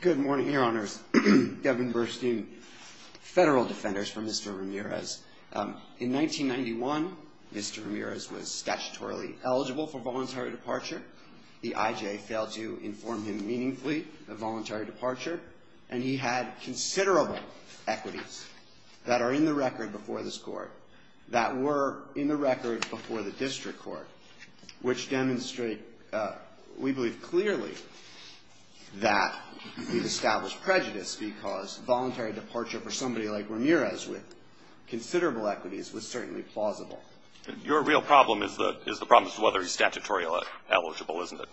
Good morning, Your Honors. Devin Burstein, Federal Defenders for Mr. Ramirez. In 1991, Mr. Ramirez was statutorily eligible for voluntary departure. The IJ failed to inform him meaningfully of voluntary departure, and he had considerable equities that are in the record before this Court, that were in the record before the District Court, which demonstrate, we believe clearly, that Mr. Ramirez has established prejudice because voluntary departure for somebody like Ramirez with considerable equities was certainly plausible. Your real problem is the problem is whether he's statutorily eligible, isn't it?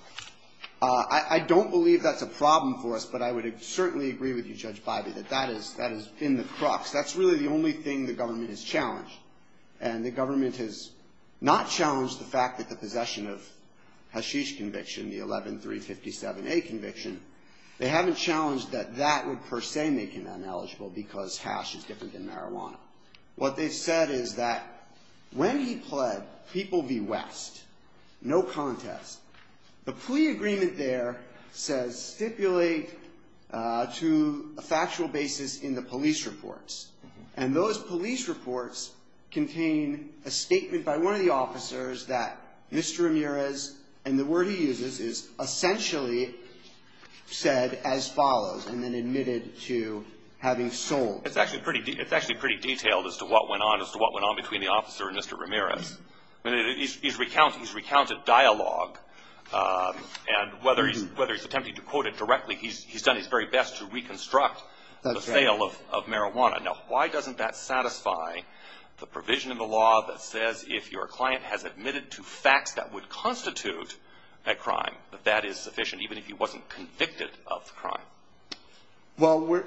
I don't believe that's a problem for us, but I would certainly agree with you, Judge Bybee, that that is in the crux. That's really the only thing the government has challenged. And the government has not challenged the fact that the possession of Hashish conviction, the 11-357-A conviction, is in the crux. They haven't challenged that that would per se make him ineligible because hash is different than marijuana. What they've said is that when he pled People v. West, no contest, the plea agreement there says stipulate to a factual basis in the police reports. And those police reports contain a statement by one of the officers that Mr. Ramirez, and the word he uses is essentially said as follows, and then admitted to having sold. It's actually pretty detailed as to what went on between the officer and Mr. Ramirez. He's recounted dialogue, and whether he's attempting to quote it directly, he's done his very best to reconstruct the sale of marijuana. Now, why doesn't that satisfy the provision in the law that says if your client has admitted to facts that would constitute a crime, that that is sufficient, even if he wasn't convicted of the crime? Well,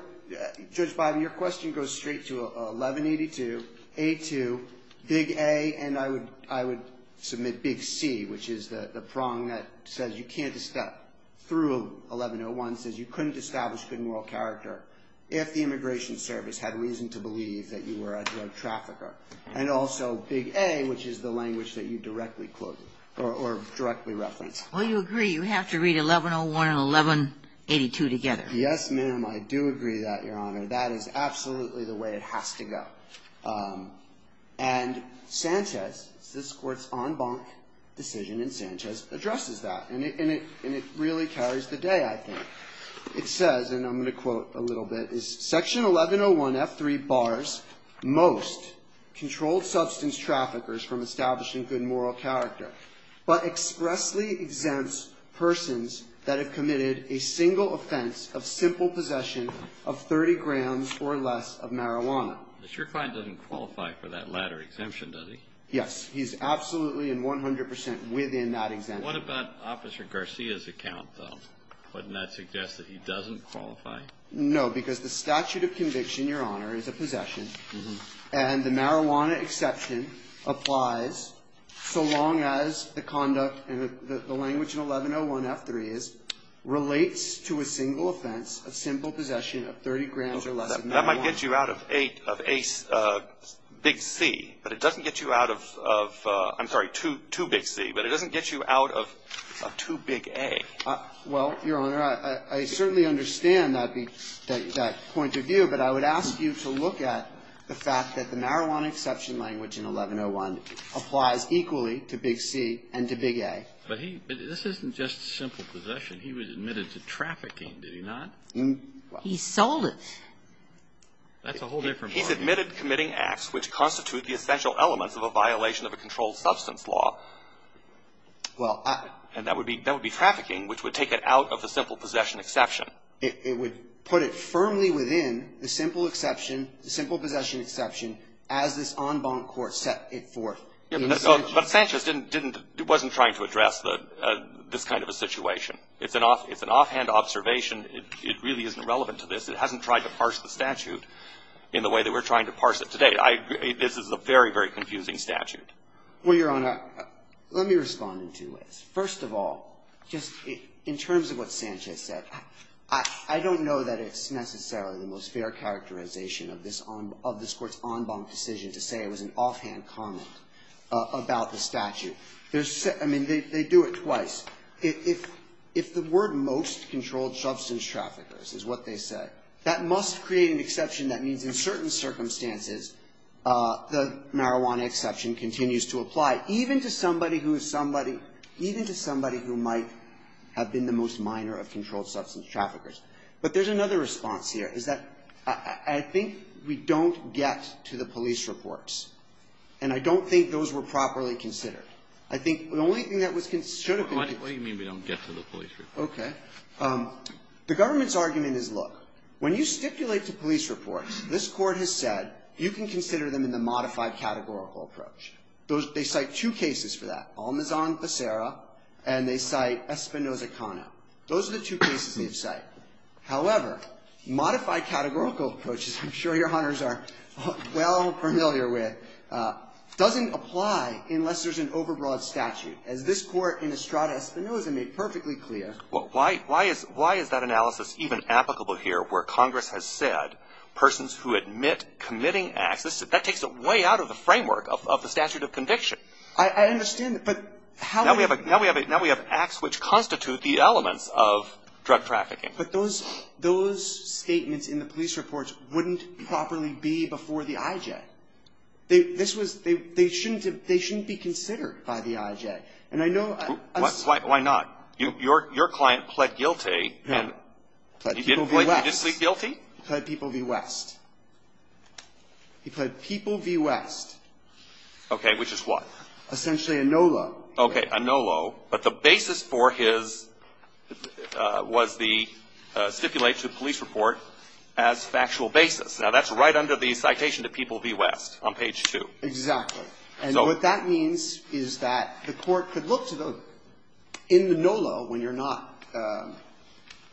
Judge Biden, your question goes straight to 11-82, A-2, Big A, and I would submit Big C, which is the prong that says you can't step through 11-01. It says you couldn't establish good moral character if the Immigration Service had reason to believe that you were a drug trafficker. And also Big A, which is the language that you directly quoted or directly referenced. Well, you agree you have to read 11-01 and 11-82 together. Yes, ma'am. I do agree that, Your Honor. That is absolutely the way it has to go. And Sanchez, this Court's en banc decision in Sanchez, addresses that, and it really carries the day, I think. It says, and I'm going to quote a little bit, is Section 11-01, F-3, bars most controlled substance traffickers from establishing good moral character, but expressly exempts persons that have committed a single offense of simple possession of 30 grams or less of marijuana. But your client doesn't qualify for that latter exemption, does he? Yes, he's absolutely and 100 percent within that exemption. What about Officer Garcia's account, though? Wouldn't that suggest that he doesn't qualify? No, because the statute of conviction, Your Honor, is a possession, and the marijuana exception applies so long as the conduct and the language in 11-01, F-3, relates to a single offense of simple possession of 30 grams or less of marijuana. That might get you out of a big C, but it doesn't get you out of, I'm sorry, two big C, but it doesn't get you out of a two big A. Well, Your Honor, I certainly understand that point of view, but I would ask you to look at the fact that the marijuana exception language in 11-01 applies equally to big C and to big A. But this isn't just simple possession. He was admitted to trafficking, did he not? He sold it. That's a whole different point. He's admitted committing acts which constitute the essential elements of a violation of a controlled substance law. Well, I — And that would be trafficking, which would take it out of the simple possession exception. It would put it firmly within the simple exception, the simple possession exception, as this en banc court set it forth. But Sanchez didn't, wasn't trying to address this kind of a situation. It's an offhand observation. It really isn't relevant to this. It hasn't tried to parse the statute in the way that we're trying to parse it today. This is a very, very confusing statute. Well, Your Honor, let me respond in two ways. First of all, just in terms of what Sanchez said, I don't know that it's necessarily the most fair characterization of this Court's en banc decision to say it was an offhand comment about the statute. There's — I mean, they do it twice. If the word most controlled substance traffickers is what they say, that must create an exception that means in certain circumstances the marijuana exception continues to apply, even to somebody who is somebody — even to somebody who might have been the most minor of controlled substance traffickers. But there's another response here, is that I think we don't get to the police reports, and I don't think those were properly considered. I think the only thing that was considered — Kennedy. What do you mean we don't get to the police reports? Okay. The government's argument is, look, when you stipulate to police reports, this Court has said you can consider them in the modified categorical approach. They cite two cases for that, Almazan-Pacera and they cite Espinoza-Cano. Those are the two cases they've cited. However, modified categorical approaches, I'm sure Your Honors are well familiar with, doesn't apply unless there's an overbroad statute. As this Court in Estrada-Espinoza made perfectly clear — Well, why is that analysis even applicable here where Congress has said persons who admit committing acts — that takes it way out of the framework of the statute of conviction. I understand, but how — Now we have acts which constitute the elements of drug trafficking. But those statements in the police reports wouldn't properly be before the IJ. This was — they shouldn't have — they shouldn't be considered by the IJ. And I know — Why not? Your client pled guilty and — He pled People v. West. He pled people v. West. He pled People v. West. Okay. Which is what? Essentially a no-lo. Okay. A no-lo. But the basis for his was the stipulate to police report as factual basis. Now, that's right under the citation to People v. West on page 2. Exactly. And what that means is that the Court could look to the — in the no-lo when you're not —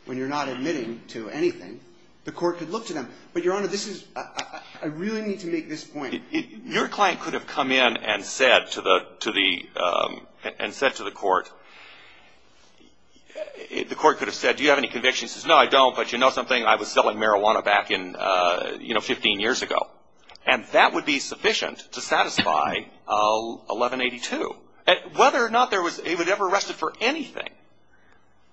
when you're not admitting to anything, the Court could look to them. But, Your Honor, this is — I really need to make this point. Your client could have come in and said to the — to the — and said to the Court — the Court could have said, do you have any convictions? He says, no, I don't. But you know something? I was selling marijuana back in, you know, 15 years ago. And that would be sufficient to satisfy 1182. Whether or not there was — he was never arrested for anything.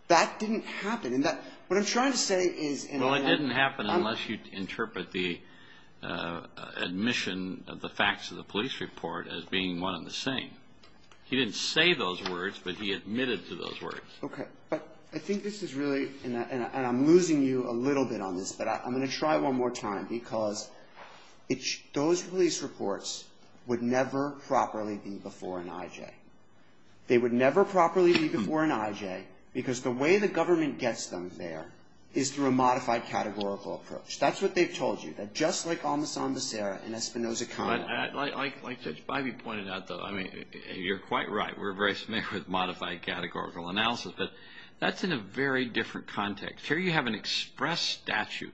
That didn't happen. And that — what I'm trying to say is — Well, it didn't happen unless you interpret the admission of the facts of the police report as being one and the same. He didn't say those words, but he admitted to those words. Okay. But I think this is really — and I'm losing you a little bit on this, but I'm going to try one more time, because those police reports would never properly be before an IJ. They would never properly be before an IJ, because the way the government gets them there is through a modified categorical approach. That's what they've told you. That just like on the Sambucera and Espinoza-Connolly — But like Judge Bivey pointed out, though, I mean, you're quite right. We're very familiar with modified categorical analysis, but that's in a very different context. Here you have an express statute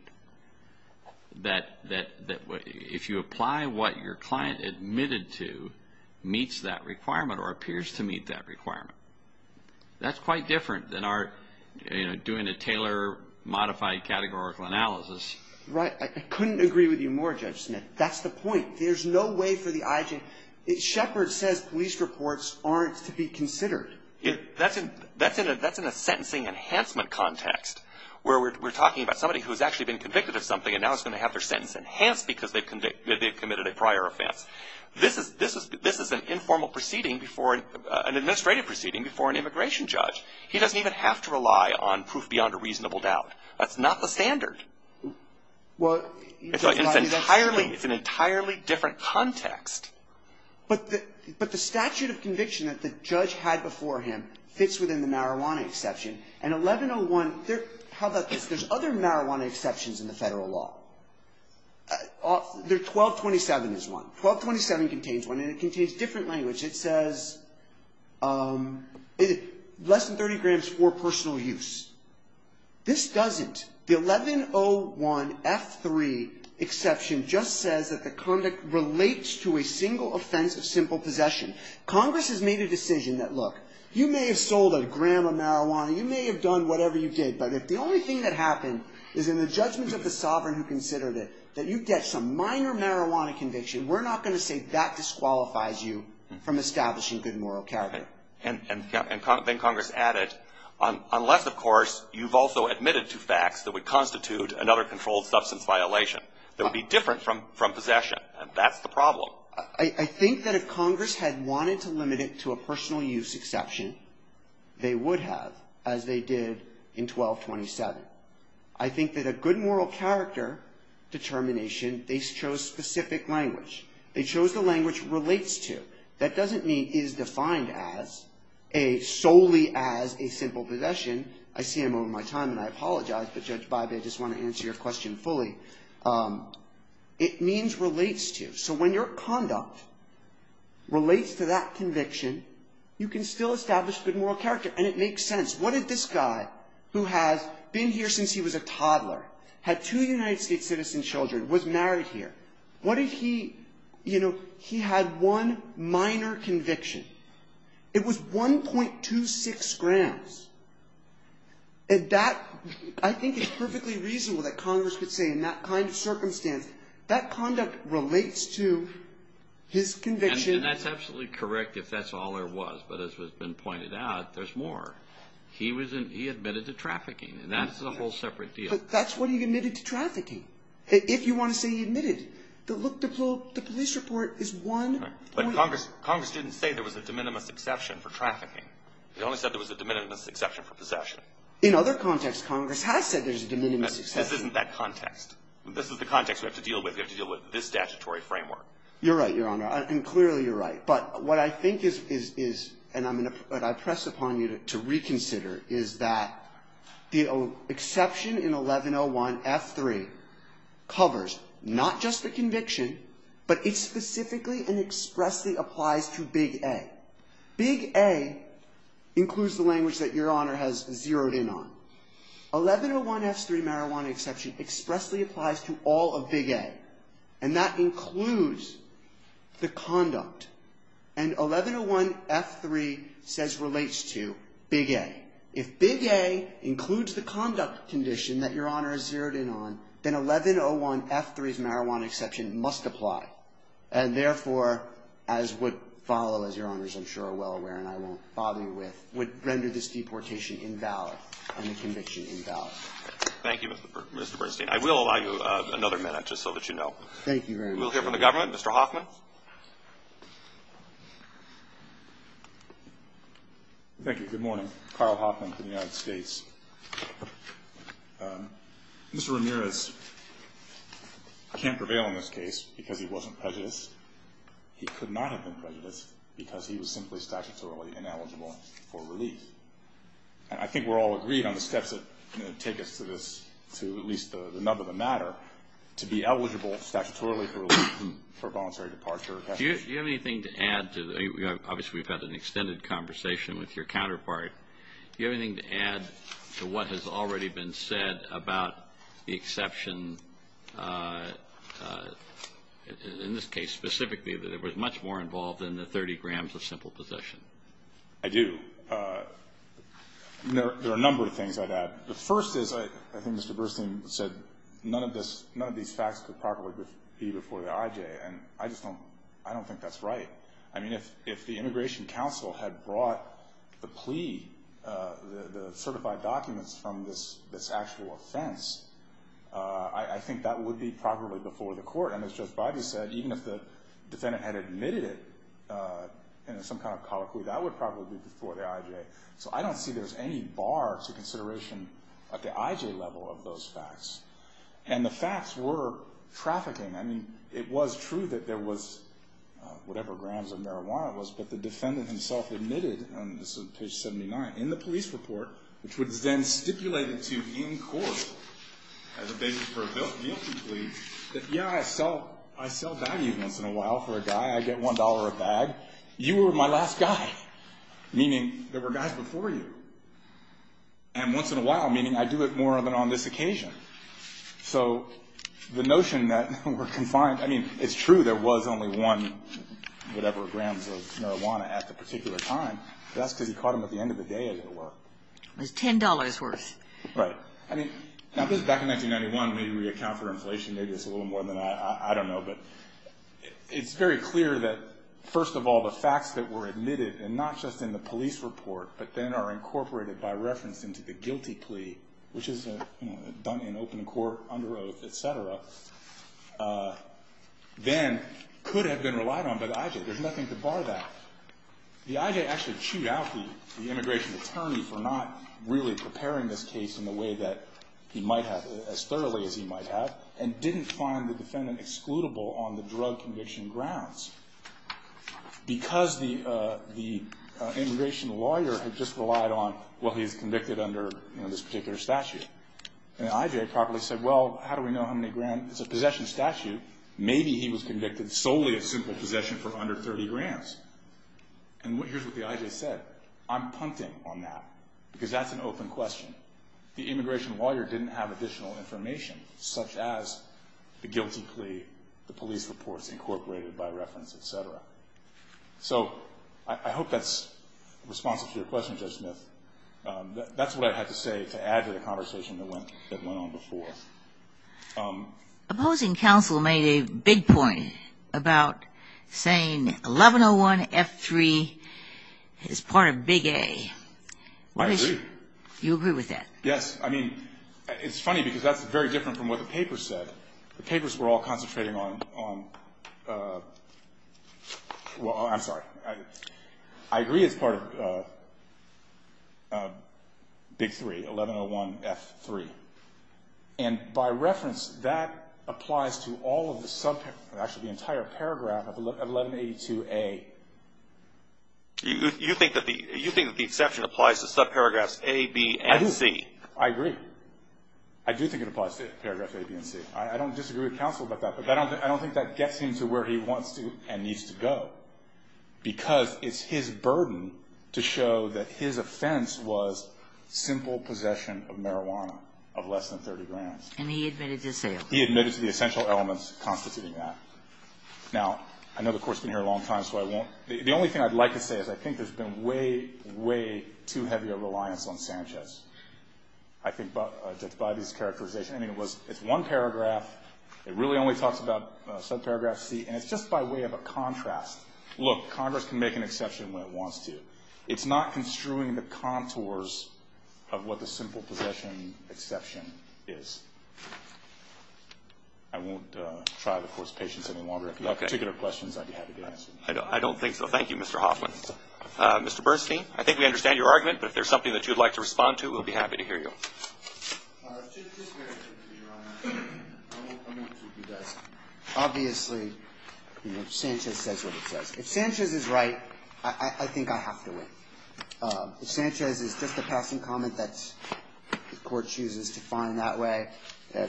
that if you apply what your client admitted to, meets that requirement or appears to meet that requirement. That's quite different than our — you know, doing a tailor-modified categorical analysis. Right. I couldn't agree with you more, Judge Smith. That's the point. There's no way for the IJ — Shepherd says police reports aren't to be considered. That's in a sentencing enhancement context, where we're talking about somebody who's actually been convicted of something and now is going to have their sentence enhanced because they've committed a prior offense. This is an informal proceeding before — an administrative proceeding before an immigration judge. He doesn't even have to rely on proof beyond a reasonable doubt. That's not the standard. It's entirely — it's an entirely different context. But the statute of conviction that the judge had before him fits within the marijuana exception. And 1101 — how about this? There's other marijuana exceptions in the federal law. 1227 is one. 1227 contains one, and it contains different language. It says less than 30 grams for personal use. This doesn't. The 1101F3 exception just says that the conduct relates to a single offense of simple possession. Congress has made a decision that, look, you may have sold a gram of marijuana. You may have done whatever you did. But if the only thing that happened is in the judgment of the sovereign who considered it, that you get some minor marijuana conviction, we're not going to say that disqualifies you from establishing good moral character. And then Congress added, unless, of course, you've also admitted to facts that would constitute another controlled substance violation, that would be different from possession. And that's the problem. I think that if Congress had wanted to limit it to a personal use exception, they would have, as they did in 1227. I think that a good moral character determination, they chose specific language. They chose the language it relates to. That doesn't mean it is defined as a solely as a simple possession. I see I'm over my time and I apologize, but Judge Bybee, I just want to answer your question fully. It means relates to. So when your conduct relates to that conviction, you can still establish good moral character. And it makes sense. What if this guy who has been here since he was a toddler, had two United States citizen children, was married here, what if he, you know, he had one minor conviction? It was 1.26 grams. And that, I think it's perfectly reasonable that Congress could say in that kind of circumstance, that conduct relates to his conviction. And that's absolutely correct if that's all there was. But as has been pointed out, there's more. He admitted to trafficking. And that's a whole separate deal. But that's what he admitted to trafficking. If you want to say he admitted. Look, the police report is one. But Congress didn't say there was a de minimis exception for trafficking. He only said there was a de minimis exception for possession. In other contexts, Congress has said there's a de minimis exception. This isn't that context. This is the context we have to deal with. We have to deal with this statutory framework. You're right, Your Honor. And clearly you're right. But what I think is, and I'm going to press upon you to reconsider, is that the exception in 1101F3 covers not just the conviction, but it specifically and expressly applies to Big A. Big A includes the language that Your Honor has zeroed in on. 1101F3 marijuana exception expressly applies to all of Big A. And that includes the conduct. And 1101F3 says relates to Big A. If Big A includes the conduct condition that Your Honor has zeroed in on, then 1101F3's marijuana exception must apply. And therefore, as would follow, as Your Honors I'm sure are well aware and I won't bother you with, would render this deportation invalid and the conviction invalid. Thank you, Mr. Bernstein. I will allow you another minute, just so that you know. Thank you very much. We'll hear from the government. Mr. Hoffman. Thank you. Good morning. Carl Hoffman for the United States. Mr. Ramirez can't prevail in this case because he wasn't prejudiced. He could not have been prejudiced because he was simply statutorily ineligible for relief. And I think we're all agreed on the steps that take us to this, to at least the nub of the matter, to be eligible statutorily for relief and for voluntary departure. Do you have anything to add? Obviously we've had an extended conversation with your counterpart. Do you have anything to add to what has already been said about the exception, in this case specifically, that it was much more involved than the 30 grams of simple possession? I do. There are a number of things I'd add. The first is, I think Mr. Burstein said, none of these facts could properly be before the IJ, and I just don't think that's right. I mean, if the Immigration Council had brought the plea, the certified documents from this actual offense, I think that would be properly before the court. And as Judge Bivey said, even if the defendant had admitted it in some kind of colloquy, that would probably be before the IJ. So I don't see there's any bar to consideration at the IJ level of those facts. And the facts were trafficking. I mean, it was true that there was whatever grams of marijuana was, but the defendant himself admitted, and this is page 79, in the police report, which was then stipulated to him in court as a basis for a guilty plea, that, yeah, I sell value once in a while for a guy. I get $1 a bag. You were my last guy. Meaning there were guys before you. And once in a while, meaning I do it more than on this occasion. So the notion that we're confined, I mean, it's true there was only one whatever grams of marijuana at the particular time. That's because he caught them at the end of the day, as it were. It was $10 worth. Right. I mean, now this is back in 1991. Maybe we account for inflation. Maybe it's a little more than that. I don't know. But it's very clear that, first of all, the facts that were admitted, and not just in the police report, but then are incorporated by reference into the guilty plea, which is done in open court, under oath, et cetera, then could have been relied on by the IJ. There's nothing to bar that. The IJ actually chewed out the immigration attorney for not really preparing this case in the way that he might have, as thoroughly as he might have, and didn't find the defendant excludable on the drug conviction grounds. Because the immigration lawyer had just relied on, well, he's convicted under this particular statute. And the IJ probably said, well, how do we know how many grams? It's a possession statute. Maybe he was convicted solely of simple possession for under 30 grams. And here's what the IJ said. I'm punting on that, because that's an open question. The immigration lawyer didn't have additional information, such as the guilty plea, the police reports incorporated by reference, et cetera. So I hope that's responsive to your question, Judge Smith. That's what I had to say to add to the conversation that went on before. Opposing counsel made a big point about saying 1101F3 is part of Big A. I agree. You agree with that? Yes. I mean, it's funny, because that's very different from what the papers said. The papers were all concentrating on, well, I'm sorry. I agree it's part of Big 3, 1101F3. And by reference, that applies to all of the subparagraphs, actually the entire paragraph of 1182A. You think that the exception applies to subparagraphs A, B, and C. I do. I agree. I do think it applies to paragraphs A, B, and C. I don't disagree with counsel about that, but I don't think that gets him to where he wants to and needs to go, because it's his burden to show that his offense was simple possession of marijuana of less than 30 grams. And he admitted to sales. He admitted to the essential elements constituting that. Now, I know the Court's been here a long time, so I won't. The only thing I'd like to say is I think there's been way, way too heavy a reliance on Sanchez, I think, by these characterization. I mean, it's one paragraph. It really only talks about subparagraph C, and it's just by way of a contrast. Look, Congress can make an exception when it wants to. It's not construing the contours of what the simple possession exception is. I won't try to force patience any longer. If you have particular questions, I'd be happy to answer them. I don't think so. Thank you, Mr. Hoffman. Mr. Bernstein, I think we understand your argument, but if there's something that you'd like to respond to, we'll be happy to hear you. Just very quickly, Your Honor. I won't comment until he does. Obviously, you know, Sanchez says what it says. If Sanchez is right, I think I have to win. Sanchez is just a passing comment that the Court chooses to find that way.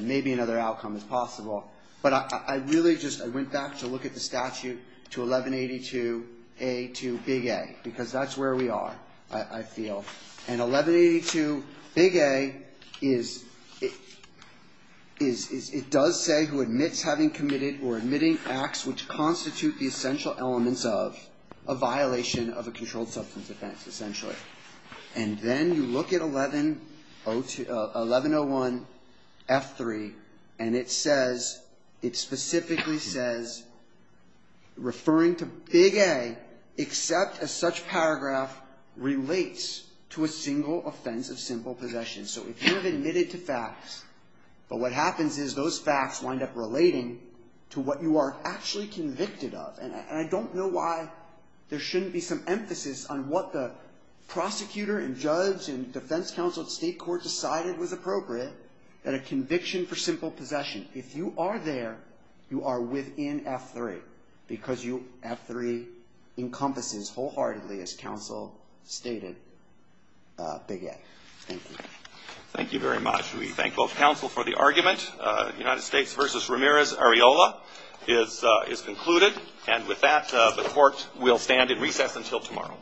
Maybe another outcome is possible. But I really just went back to look at the statute to 1182A to Big A, because that's where we are, I feel. And 1182Big A is, it does say who admits having committed or admitting acts which constitute the essential elements of a violation of a controlled substance offense, essentially. And then you look at 1101F3, and it says, it specifically says, referring to Big A, except a such paragraph relates to a single offense of simple possession. So if you have admitted to facts, but what happens is those facts wind up relating to what you are actually convicted of. And I don't know why there shouldn't be some emphasis on what the prosecutor and judge and defense counsel at state court decided was appropriate, that a conviction for simple possession. If you are there, you are within F3, because F3 encompasses wholeheartedly, as counsel stated, Big A. Thank you. Thank you very much. We thank both counsel for the argument. United States v. Ramirez-Ariola is concluded. And with that, the court will stand in recess until tomorrow.